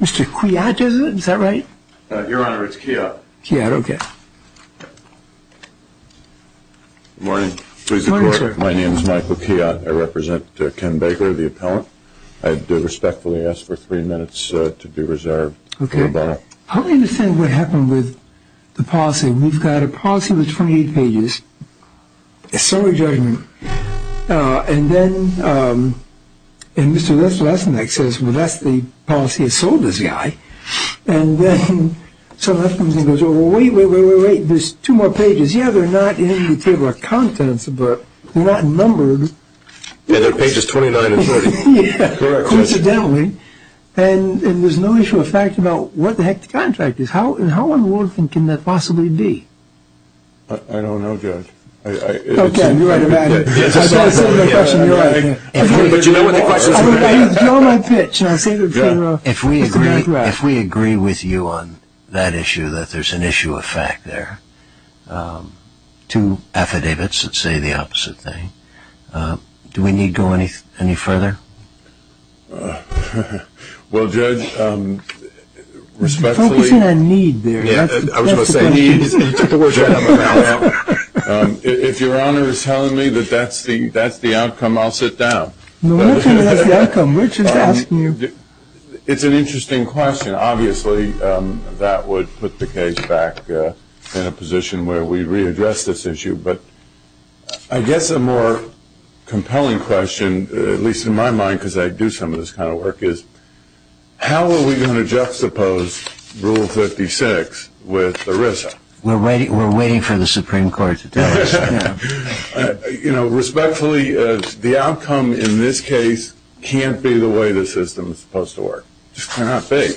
Mr. Kwiat, is that right? Your Honor, it's Kwiat. Kwiat, okay. Good morning. Good morning, sir. My name is Michael Kwiat. I represent Ken Baker, the appellant. I do respectfully ask for three minutes to be reserved. Okay. I don't understand what happened with the policy. We've got a policy with 28 pages, a summary judgment, and then Mr. Lesnick says, well, that's the policy that sold this guy. And then Sunlife comes in and goes, oh, wait, wait, wait, wait, wait, there's two more pages. Yeah, they're not in the table of contents, but they're not numbered. Yeah, they're pages 29 and 30. Yeah, coincidentally. And there's no issue of fact about what the heck the contract is. How unworthy can that possibly be? I don't know, Judge. Okay, you're right about it. I've got a similar question to yours. But you know what the question is. You know my pitch, and I'll say it in a row. If we agree with you on that issue that there's an issue of fact there, two affidavits that say the opposite thing, do we need to go any further? Well, Judge, respectfully. You're focusing on need there. I was going to say need. If Your Honor is telling me that that's the outcome, I'll sit down. No, we're talking about the outcome. We're just asking you. It's an interesting question. Obviously, that would put the case back in a position where we readdress this issue. But I guess a more compelling question, at least in my mind, because I do some of this kind of work, is how are we going to juxtapose Rule 56 with ERISA? We're waiting for the Supreme Court to tell us. You know, respectfully, the outcome in this case can't be the way the system is supposed to work. It just cannot be.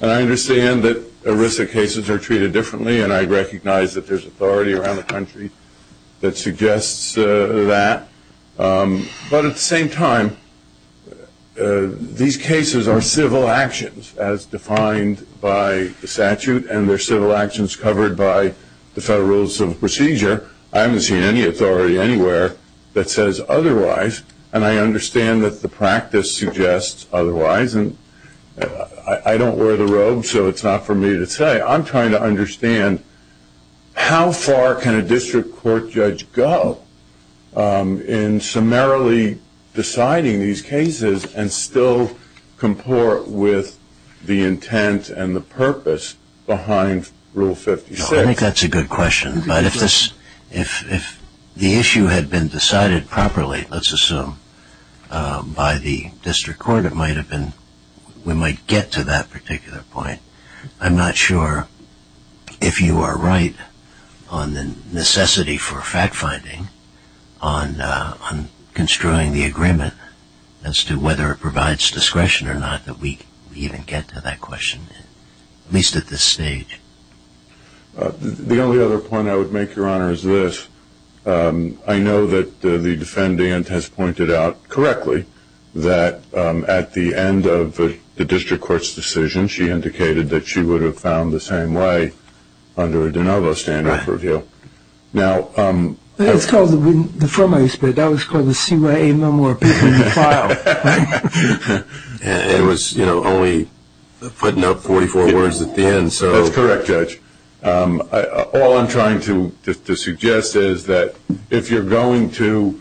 And I understand that ERISA cases are treated differently, and I recognize that there's authority around the country that suggests that. But at the same time, these cases are civil actions as defined by the statute, and they're civil actions covered by the Federal Rules of Procedure. I haven't seen any authority anywhere that says otherwise, and I understand that the practice suggests otherwise. I don't wear the robe, so it's not for me to say. I'm trying to understand how far can a district court judge go in summarily deciding these cases and still comport with the intent and the purpose behind Rule 56? I think that's a good question. But if the issue had been decided properly, let's assume, by the district court, we might get to that particular point. I'm not sure if you are right on the necessity for fact-finding on construing the agreement as to whether it provides discretion or not that we even get to that question, at least at this stage. The only other point I would make, Your Honor, is this. I know that the defendant has pointed out correctly that at the end of the district court's decision, she indicated that she would have found the same way under a de novo standard for review. It's called the form I used, but that was called the CYA memoir between the file. It was only putting up 44 words at the end. That's correct, Judge. All I'm trying to suggest is that if you're going to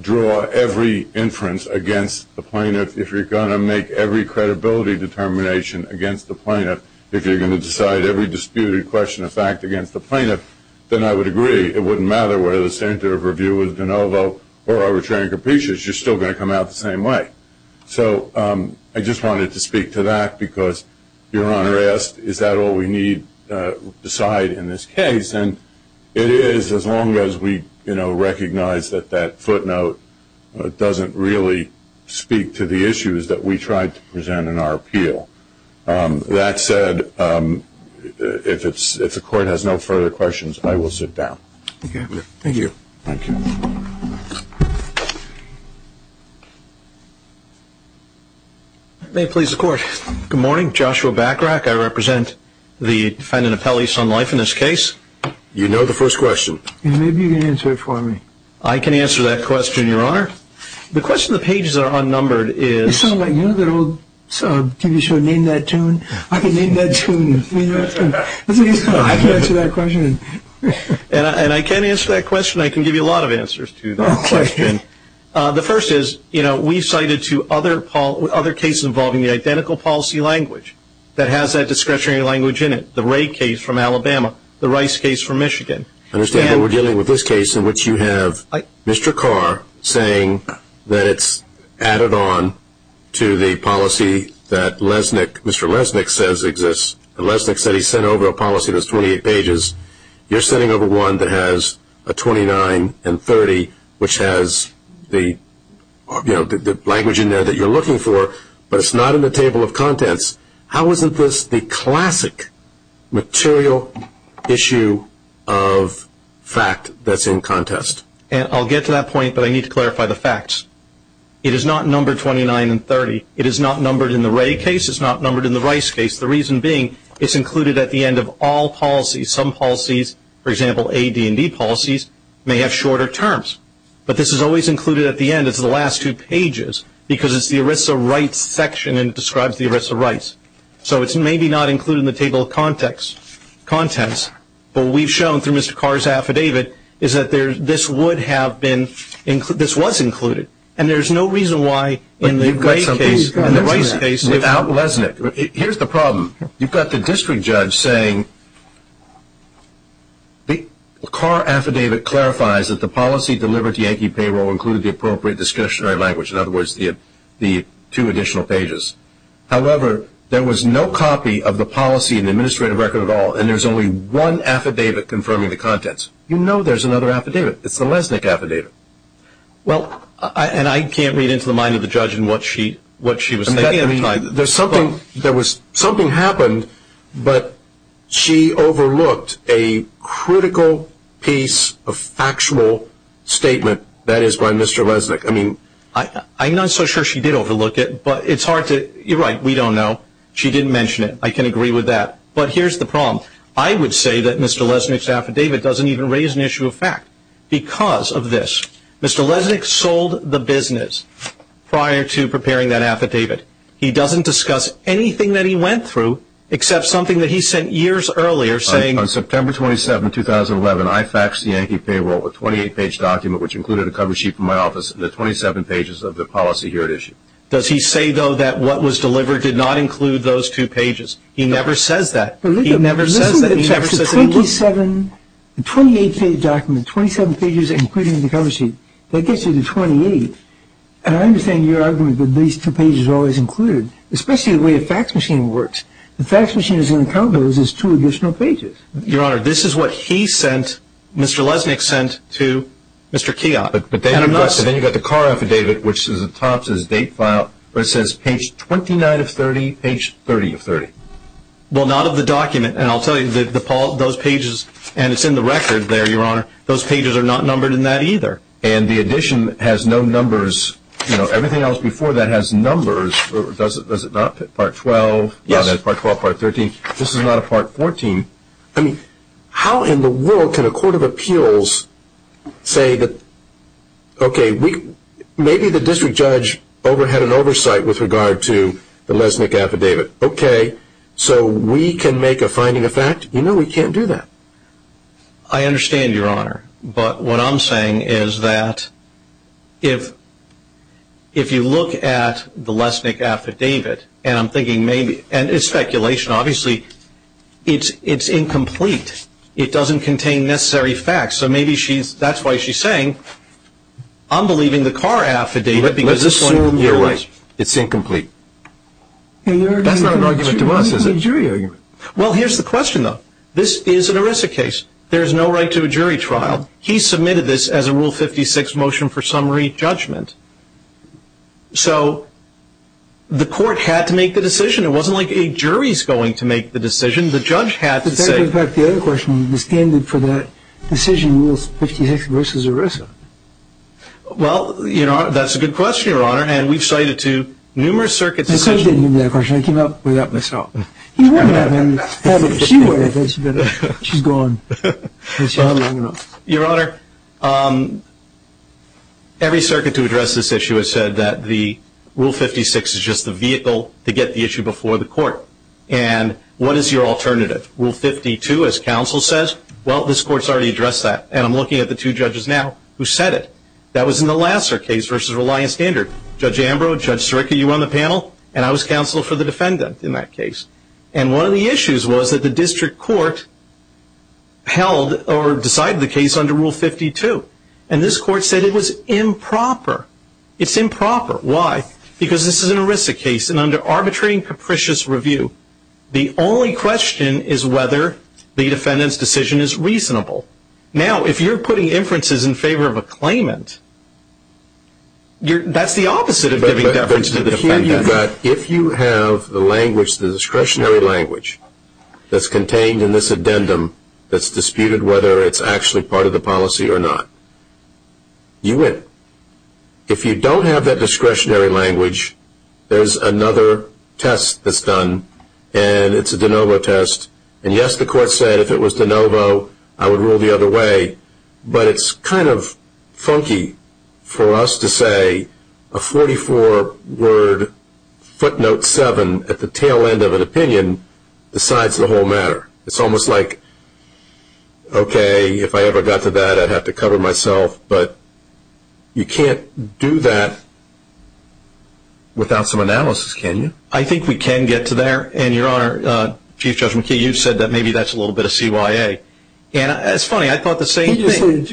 draw every inference against the plaintiff, if you're going to make every credibility determination against the plaintiff, if you're going to decide every disputed question of fact against the plaintiff, then I would agree. It wouldn't matter whether the standard of review was de novo or arbitrary and capitious. You're still going to come out the same way. So I just wanted to speak to that because Your Honor asked, is that all we need to decide in this case? It is, as long as we recognize that that footnote doesn't really speak to the issues that we tried to present in our appeal. That said, if the Court has no further questions, I will sit down. Thank you. May it please the Court. Good morning. I represent the defendant of Pelley Sun Life in this case. You know the first question. Maybe you can answer it for me. I can answer that question, Your Honor. The question of the pages that are unnumbered is- You know that old TV show, Name That Tune? I can name that tune. I can answer that question. And I can answer that question. I can give you a lot of answers to that question. The first is, you know, we've cited two other cases involving the identical policy language that has that discretionary language in it, the Ray case from Alabama, the Rice case from Michigan. I understand that we're dealing with this case in which you have Mr. Carr saying that it's added on to the policy that Lesnick, Mr. Lesnick says exists. Lesnick said he sent over a policy that's 28 pages. You're sending over one that has a 29 and 30, which has the language in there that you're looking for, but it's not in the table of contents. How isn't this the classic material issue of fact that's in contest? I'll get to that point, but I need to clarify the facts. It is not numbered 29 and 30. It is not numbered in the Ray case. It is not numbered in the Rice case. The reason being it's included at the end of all policies. Some policies, for example, AD&D policies may have shorter terms, but this is always included at the end as the last two pages because it's the ERISA rights section and describes the ERISA rights. So it's maybe not included in the table of contents, but what we've shown through Mr. Carr's affidavit is that this would have been included, this was included, and there's no reason why in the Ray case and the Rice case without Lesnick. Here's the problem. You've got the district judge saying the Carr affidavit clarifies that the policy delivered to Yankee Payroll included the appropriate discretionary language, in other words, the two additional pages. However, there was no copy of the policy in the administrative record at all, and there's only one affidavit confirming the contents. You know there's another affidavit. It's the Lesnick affidavit. Well, and I can't read into the mind of the judge in what she was thinking at the time. There was something happened, but she overlooked a critical piece of factual statement that is by Mr. Lesnick. I mean, I'm not so sure she did overlook it, but it's hard to, you're right, we don't know. She didn't mention it. I can agree with that. But here's the problem. I would say that Mr. Lesnick's affidavit doesn't even raise an issue of fact because of this. Mr. Lesnick sold the business prior to preparing that affidavit. He doesn't discuss anything that he went through except something that he sent years earlier saying. On September 27, 2011, I faxed Yankee Payroll a 28-page document which included a cover sheet from my office and the 27 pages of the policy here at issue. Does he say, though, that what was delivered did not include those two pages? He never says that. He never says that. He never says that. The 28-page document, 27 pages including the cover sheet, that gets you to 28. And I understand your argument that these two pages are always included, especially the way a fax machine works. The fax machine is going to count those as two additional pages. Your Honor, this is what he sent, Mr. Lesnick sent to Mr. Keogh. But then you've got the car affidavit which is at the top of his date file where it says page 29 of 30, page 30 of 30. Well, not of the document, and I'll tell you, those pages, and it's in the record there, Your Honor, those pages are not numbered in that either. And the addition has no numbers. You know, everything else before that has numbers. Does it not? Part 12. Yes. Part 12, part 13. This is not a part 14. I mean, how in the world can a court of appeals say that, okay, maybe the district judge had an oversight with regard to the Lesnick affidavit. Okay, so we can make a finding of fact? No, we can't do that. I understand, Your Honor. But what I'm saying is that if you look at the Lesnick affidavit, and I'm thinking maybe, and it's speculation, obviously, it's incomplete. It doesn't contain necessary facts. So maybe that's why she's saying, I'm believing the car affidavit because this is one of your rights. Let's assume you're right. It's incomplete. That's not an argument to us, is it? It's a jury argument. Well, here's the question, though. This is an ERISA case. There's no right to a jury trial. He submitted this as a Rule 56 motion for summary judgment. So the court had to make the decision. It wasn't like a jury's going to make the decision. The judge had to say. In fact, the other question, the standard for that decision was 56 versus ERISA. Well, that's a good question, Your Honor, and we've cited it to numerous circuits. I came up with that myself. You wouldn't have him have it if she were here. She's gone. She's gone long enough. Your Honor, every circuit to address this issue has said that the Rule 56 is just the vehicle to get the issue before the court. And what is your alternative? Rule 52, as counsel says, well, this court's already addressed that, and I'm looking at the two judges now who said it. That was in the Lasser case versus Reliance Standard. Judge Ambrose, Judge Sirica, you were on the panel, and I was counsel for the defendant in that case. And one of the issues was that the district court held or decided the case under Rule 52, and this court said it was improper. It's improper. Why? Because this is an ERISA case, and under arbitrary and capricious review, the only question is whether the defendant's decision is reasonable. Now, if you're putting inferences in favor of a claimant, that's the opposite of giving deference to the defendant. But if you have the language, the discretionary language, that's contained in this addendum that's disputed whether it's actually part of the policy or not, you win. If you don't have that discretionary language, there's another test that's done, and it's a de novo test. And, yes, the court said if it was de novo, I would rule the other way. But it's kind of funky for us to say a 44-word footnote 7 at the tail end of an opinion decides the whole matter. It's almost like, okay, if I ever got to that, I'd have to cover myself. But you can't do that without some analysis, can you? I think we can get to there. And, Your Honor, Chief Judge McKee, you said that maybe that's a little bit of CYA. And it's funny. I thought the same thing.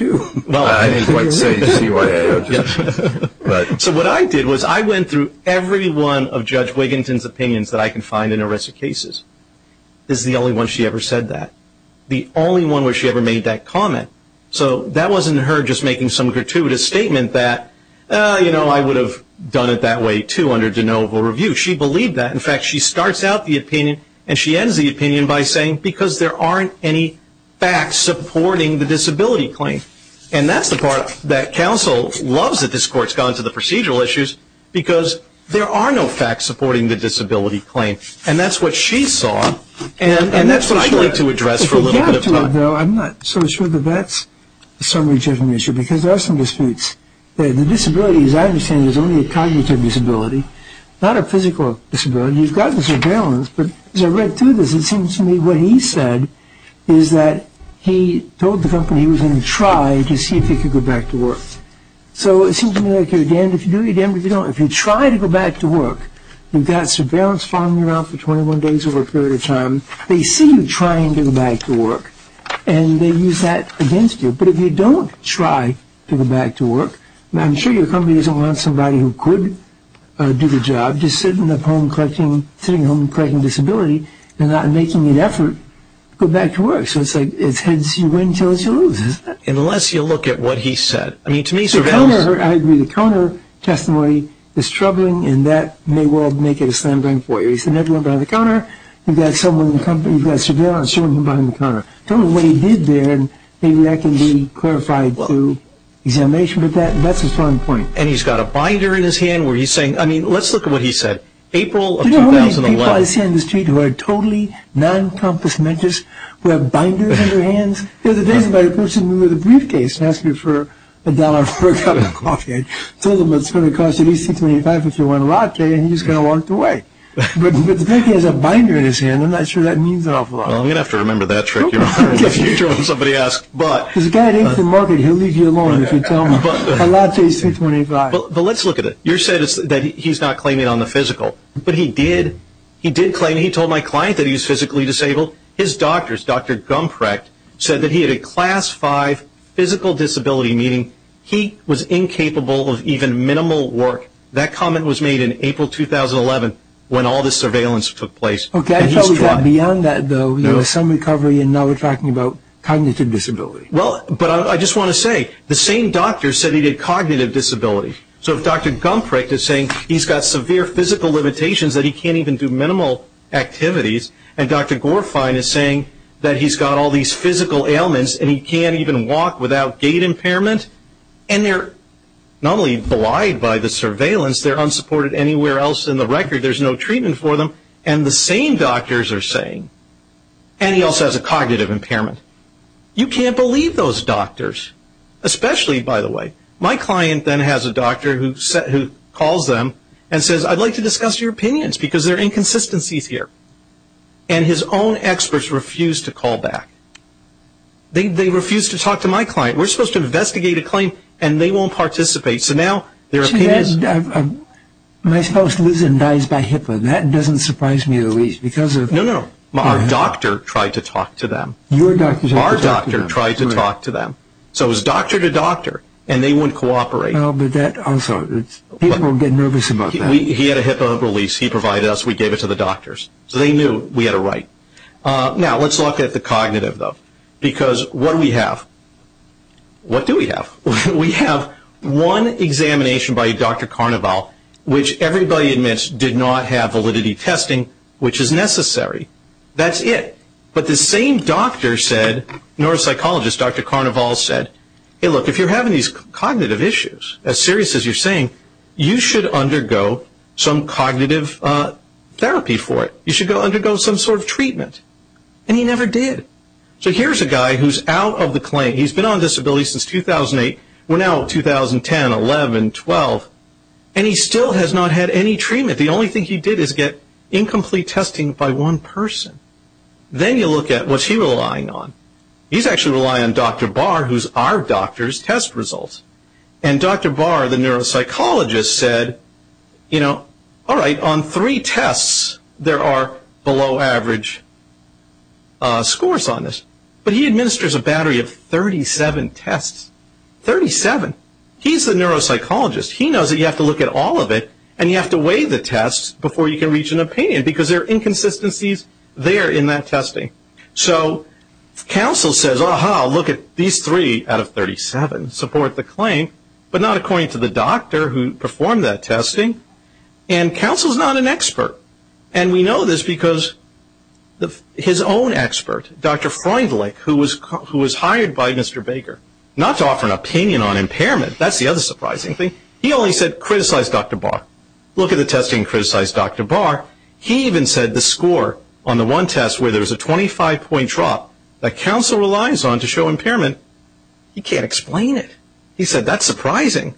Well, I didn't quite say CYA. So what I did was I went through every one of Judge Wigginton's opinions that I can find in arrested cases. This is the only one she ever said that. The only one where she ever made that comment. So that wasn't her just making some gratuitous statement that, you know, I would have done it that way, too, under de novo review. She believed that. In fact, she starts out the opinion and she ends the opinion by saying, because there aren't any facts supporting the disability claim. And that's the part that counsel loves that this Court's gone to the procedural issues because there are no facts supporting the disability claim. And that's what she saw. And that's what I'd like to address for a little bit of time. I'm not so sure that that's a summary judgment issue because there are some disputes. The disability, as I understand it, is only a cognitive disability, not a physical disability. You've got the surveillance, but as I read through this, it seems to me what he said is that he told the company he was going to try to see if he could go back to work. So it seems to me like you're damned if you do, you're damned if you don't. If you try to go back to work, you've got surveillance following you around for 21 days over a period of time. They see you trying to go back to work and they use that against you. But if you don't try to go back to work, I'm sure your company doesn't want somebody who could do the job just sitting at home collecting disability and not making an effort to go back to work. So it's like it's heads you win, tails you lose, isn't it? Unless you look at what he said. I mean, to me surveillance... The counter, I agree, the counter testimony is troubling and that may well make it a slam dunk for you. You send everyone behind the counter, you've got someone in the company, you've got surveillance following you behind the counter. Tell them what he did there and maybe that can be clarified through examination. But that's a strong point. And he's got a binder in his hand where he's saying... I mean, let's look at what he said. April of 2011... Do you know how many people I see on the street who are totally non-compassmentists, who have binders in their hands? The other day somebody approached me with a briefcase and asked me for a dollar for a cup of coffee. I told him it's going to cost at least $25 if you want a latte and he just kind of walked away. But the fact he has a binder in his hand, I'm not sure that means an awful lot. Well, you're going to have to remember that trick, Your Honor, if you don't. Somebody asked, but... There's a guy at Instant Market, he'll leave you alone if you tell him. A latte is $3.25. But let's look at it. You said that he's not claiming it on the physical, but he did. He did claim it. He told my client that he's physically disabled. His doctors, Dr. Gumprecht, said that he had a Class 5 physical disability, meaning he was incapable of even minimal work. That comment was made in April 2011 when all this surveillance took place. Okay, I thought we got beyond that, though. There was some recovery, and now we're talking about cognitive disability. Well, but I just want to say, the same doctor said he had cognitive disability. So if Dr. Gumprecht is saying he's got severe physical limitations, that he can't even do minimal activities, and Dr. Gorefine is saying that he's got all these physical ailments and he can't even walk without gait impairment, and they're not only belied by the surveillance, they're unsupported anywhere else in the record. There's no treatment for them. And the same doctors are saying, and he also has a cognitive impairment, you can't believe those doctors, especially, by the way. My client then has a doctor who calls them and says, I'd like to discuss your opinions because there are inconsistencies here. And his own experts refuse to call back. They refuse to talk to my client. We're supposed to investigate a claim, and they won't participate. So now their opinion is… My spouse lives and dies by HIPAA. That doesn't surprise me at least because of… No, no. Our doctor tried to talk to them. Your doctor tried to talk to them. Our doctor tried to talk to them. So it was doctor to doctor, and they wouldn't cooperate. Well, but that also… People get nervous about that. He had a HIPAA release. He provided us. We gave it to the doctors. So they knew we had it right. Now, let's look at the cognitive, though, because what do we have? What do we have? We have one examination by Dr. Carnival, which everybody admits did not have validity testing, which is necessary. That's it. But the same doctor said, neuropsychologist Dr. Carnival said, Hey, look, if you're having these cognitive issues, as serious as you're saying, you should undergo some cognitive therapy for it. You should undergo some sort of treatment. And he never did. So here's a guy who's out of the claim. He's been on disability since 2008. We're now at 2010, 11, 12. And he still has not had any treatment. The only thing he did is get incomplete testing by one person. Then you look at what's he relying on. He's actually relying on Dr. Barr, who's our doctor's test results. And Dr. Barr, the neuropsychologist, said, you know, all right, on three tests, there are below average scores on this. But he administers a battery of 37 tests. Thirty-seven. He's the neuropsychologist. He knows that you have to look at all of it, and you have to weigh the tests before you can reach an opinion, because there are inconsistencies there in that testing. So counsel says, Aha, look at these three out of 37 support the claim, but not according to the doctor who performed that testing. And counsel's not an expert. And we know this because his own expert, Dr. Freundlich, who was hired by Mr. Baker, not to offer an opinion on impairment. That's the other surprising thing. He only said, Criticize Dr. Barr. Look at the testing and criticize Dr. Barr. He even said the score on the one test where there's a 25-point drop that counsel relies on to show impairment, he can't explain it. He said, That's surprising.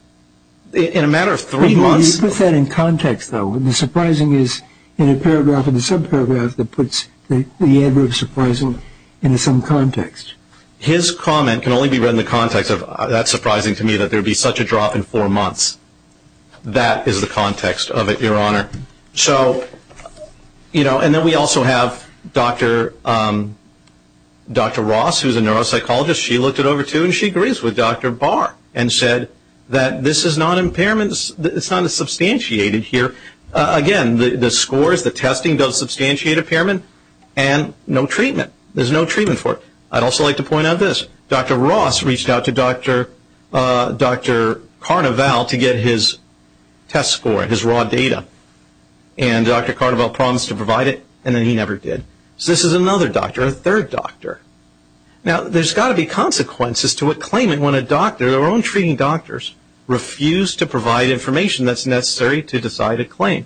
In a matter of three months. You put that in context, though. The surprising is in a paragraph in the subparagraph that puts the adverb surprising in some context. His comment can only be read in the context of, That's surprising to me that there would be such a drop in four months. That is the context of it, Your Honor. So, you know, and then we also have Dr. Ross, who's a neuropsychologist. She looked it over, too, and she agrees with Dr. Barr and said that this is not a substantiated here. Again, the scores, the testing does substantiate impairment, and no treatment. There's no treatment for it. I'd also like to point out this. Dr. Ross reached out to Dr. Carnival to get his test score, his raw data, and Dr. Carnival promised to provide it, and then he never did. So this is another doctor, a third doctor. Now, there's got to be consequences to a claimant when a doctor, their own treating doctors, refuse to provide information that's necessary to decide a claim.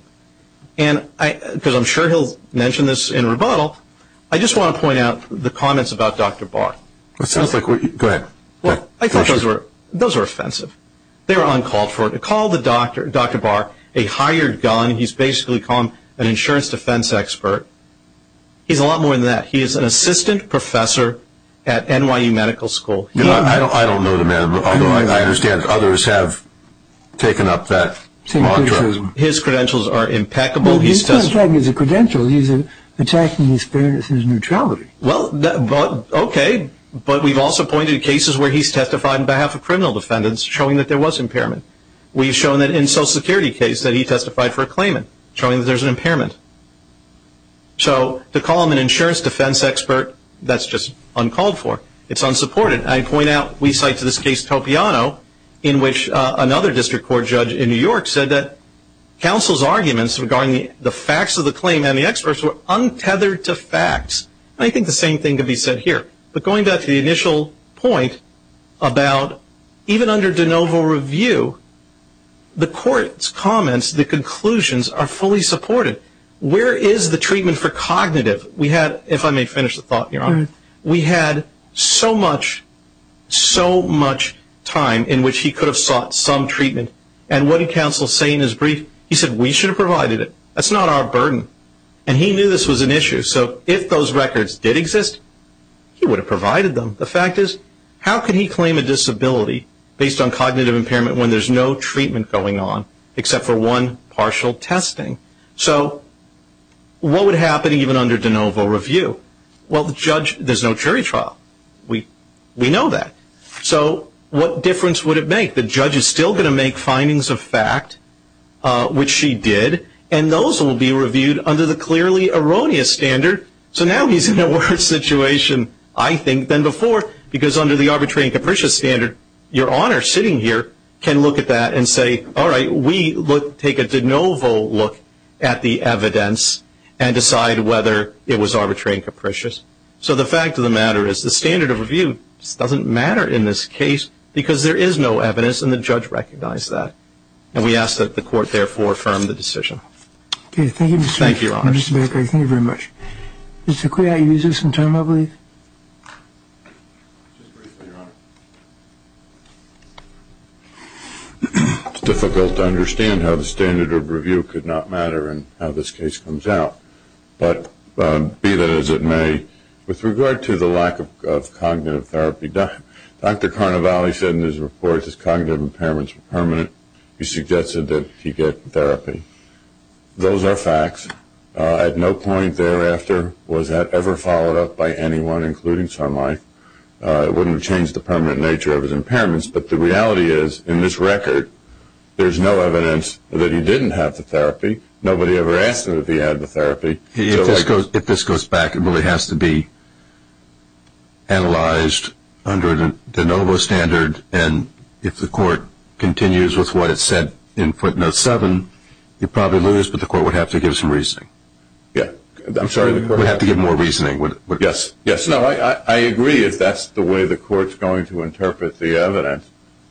And because I'm sure he'll mention this in rebuttal, I just want to point out the comments about Dr. Barr. Go ahead. Well, I thought those were offensive. They were uncalled for. They called Dr. Barr a hired gun. He's basically called an insurance defense expert. He's a lot more than that. He is an assistant professor at NYU Medical School. I don't know the man, although I understand others have taken up that mantra. His credentials are impeccable. Well, he's not attacking his credentials. He's attacking his fairness and his neutrality. Well, okay, but we've also pointed to cases where he's testified on behalf of criminal defendants showing that there was impairment. We've shown that in a Social Security case that he testified for a claimant showing that there's an impairment. So to call him an insurance defense expert, that's just uncalled for. It's unsupported. I point out we cite to this case Topiano in which another district court judge in New York said that counsel's arguments regarding the facts of the claim and the experts were untethered to facts. I think the same thing could be said here. But going back to the initial point about even under de novo review, the court's comments, the conclusions are fully supported. Where is the treatment for cognitive? If I may finish the thought here, we had so much time in which he could have sought some treatment. And what did counsel say in his brief? He said, we should have provided it. That's not our burden. And he knew this was an issue. So if those records did exist, he would have provided them. The fact is, how can he claim a disability based on cognitive impairment when there's no treatment going on except for one partial testing? So what would happen even under de novo review? Well, the judge, there's no jury trial. We know that. So what difference would it make? The judge is still going to make findings of fact, which she did, and those will be reviewed under the clearly erroneous standard. So now he's in a worse situation, I think, than before, because under the arbitrary and capricious standard, your Honor sitting here can look at that and say, all right, we take a de novo look at the evidence and decide whether it was arbitrary and capricious. So the fact of the matter is the standard of review doesn't matter in this case because there is no evidence, and the judge recognized that. And we ask that the court therefore affirm the decision. Thank you, Mr. Baker. Thank you very much. Mr. Kui, are you using some time, I believe? Just briefly, Your Honor. It's difficult to understand how the standard of review could not matter in how this case comes out. But be that as it may, with regard to the lack of cognitive therapy, Dr. Carnevale said in his report his cognitive impairments were permanent. He suggested that he get therapy. Those are facts. At no point thereafter was that ever followed up by anyone, including Sun Life. It wouldn't have changed the permanent nature of his impairments. But the reality is, in this record, there's no evidence that he didn't have the therapy. Nobody ever asked him if he had the therapy. If this goes back, it really has to be analyzed under the de novo standard, and if the court continues with what it said in footnote 7, you'd probably lose, but the court would have to give some reasoning. Yeah. I'm sorry. The court would have to give more reasoning. Yes. Yes. No, I agree. If that's the way the court's going to interpret the evidence,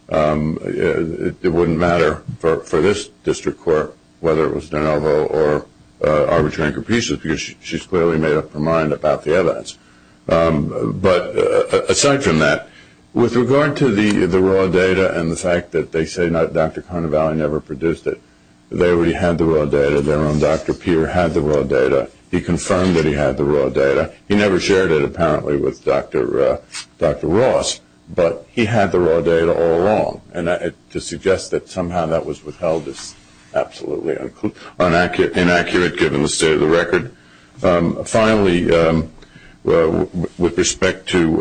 it wouldn't matter for this district court, whether it was de novo or arbitrary increases, because she's clearly made up her mind about the evidence. But aside from that, with regard to the raw data and the fact that they say Dr. Carnevale never produced it, they already had the raw data, their own Dr. Peer had the raw data. He confirmed that he had the raw data. He never shared it, apparently, with Dr. Ross, but he had the raw data all along, and to suggest that somehow that was withheld is absolutely inaccurate, given the state of the record. Finally, with respect to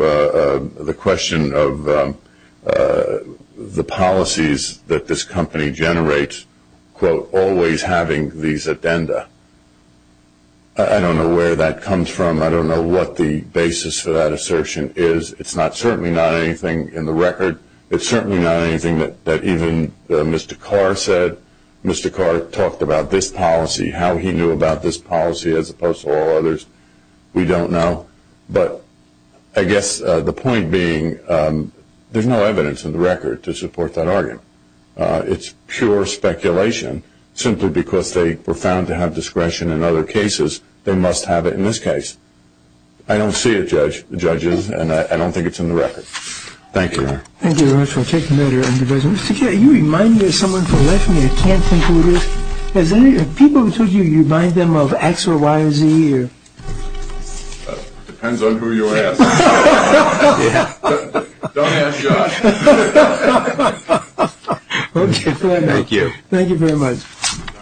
the question of the policies that this company generates, quote, always having these addenda, I don't know where that comes from. I don't know what the basis for that assertion is. It's certainly not anything in the record. It's certainly not anything that even Mr. Carr said. Mr. Carr talked about this policy, how he knew about this policy, as opposed to all others. We don't know. But I guess the point being there's no evidence in the record to support that argument. It's pure speculation. Simply because they were found to have discretion in other cases, they must have it in this case. I don't see it, judges, and I don't think it's in the record. Thank you. Thank you very much. I'll take the matter under review. Mr. Carr, you remind me of someone from left me. I can't think who it is. Have people told you you remind them of X or Y or Z? Depends on who you ask. Don't ask Josh. Okay, thank you. Thank you. Thank you very much.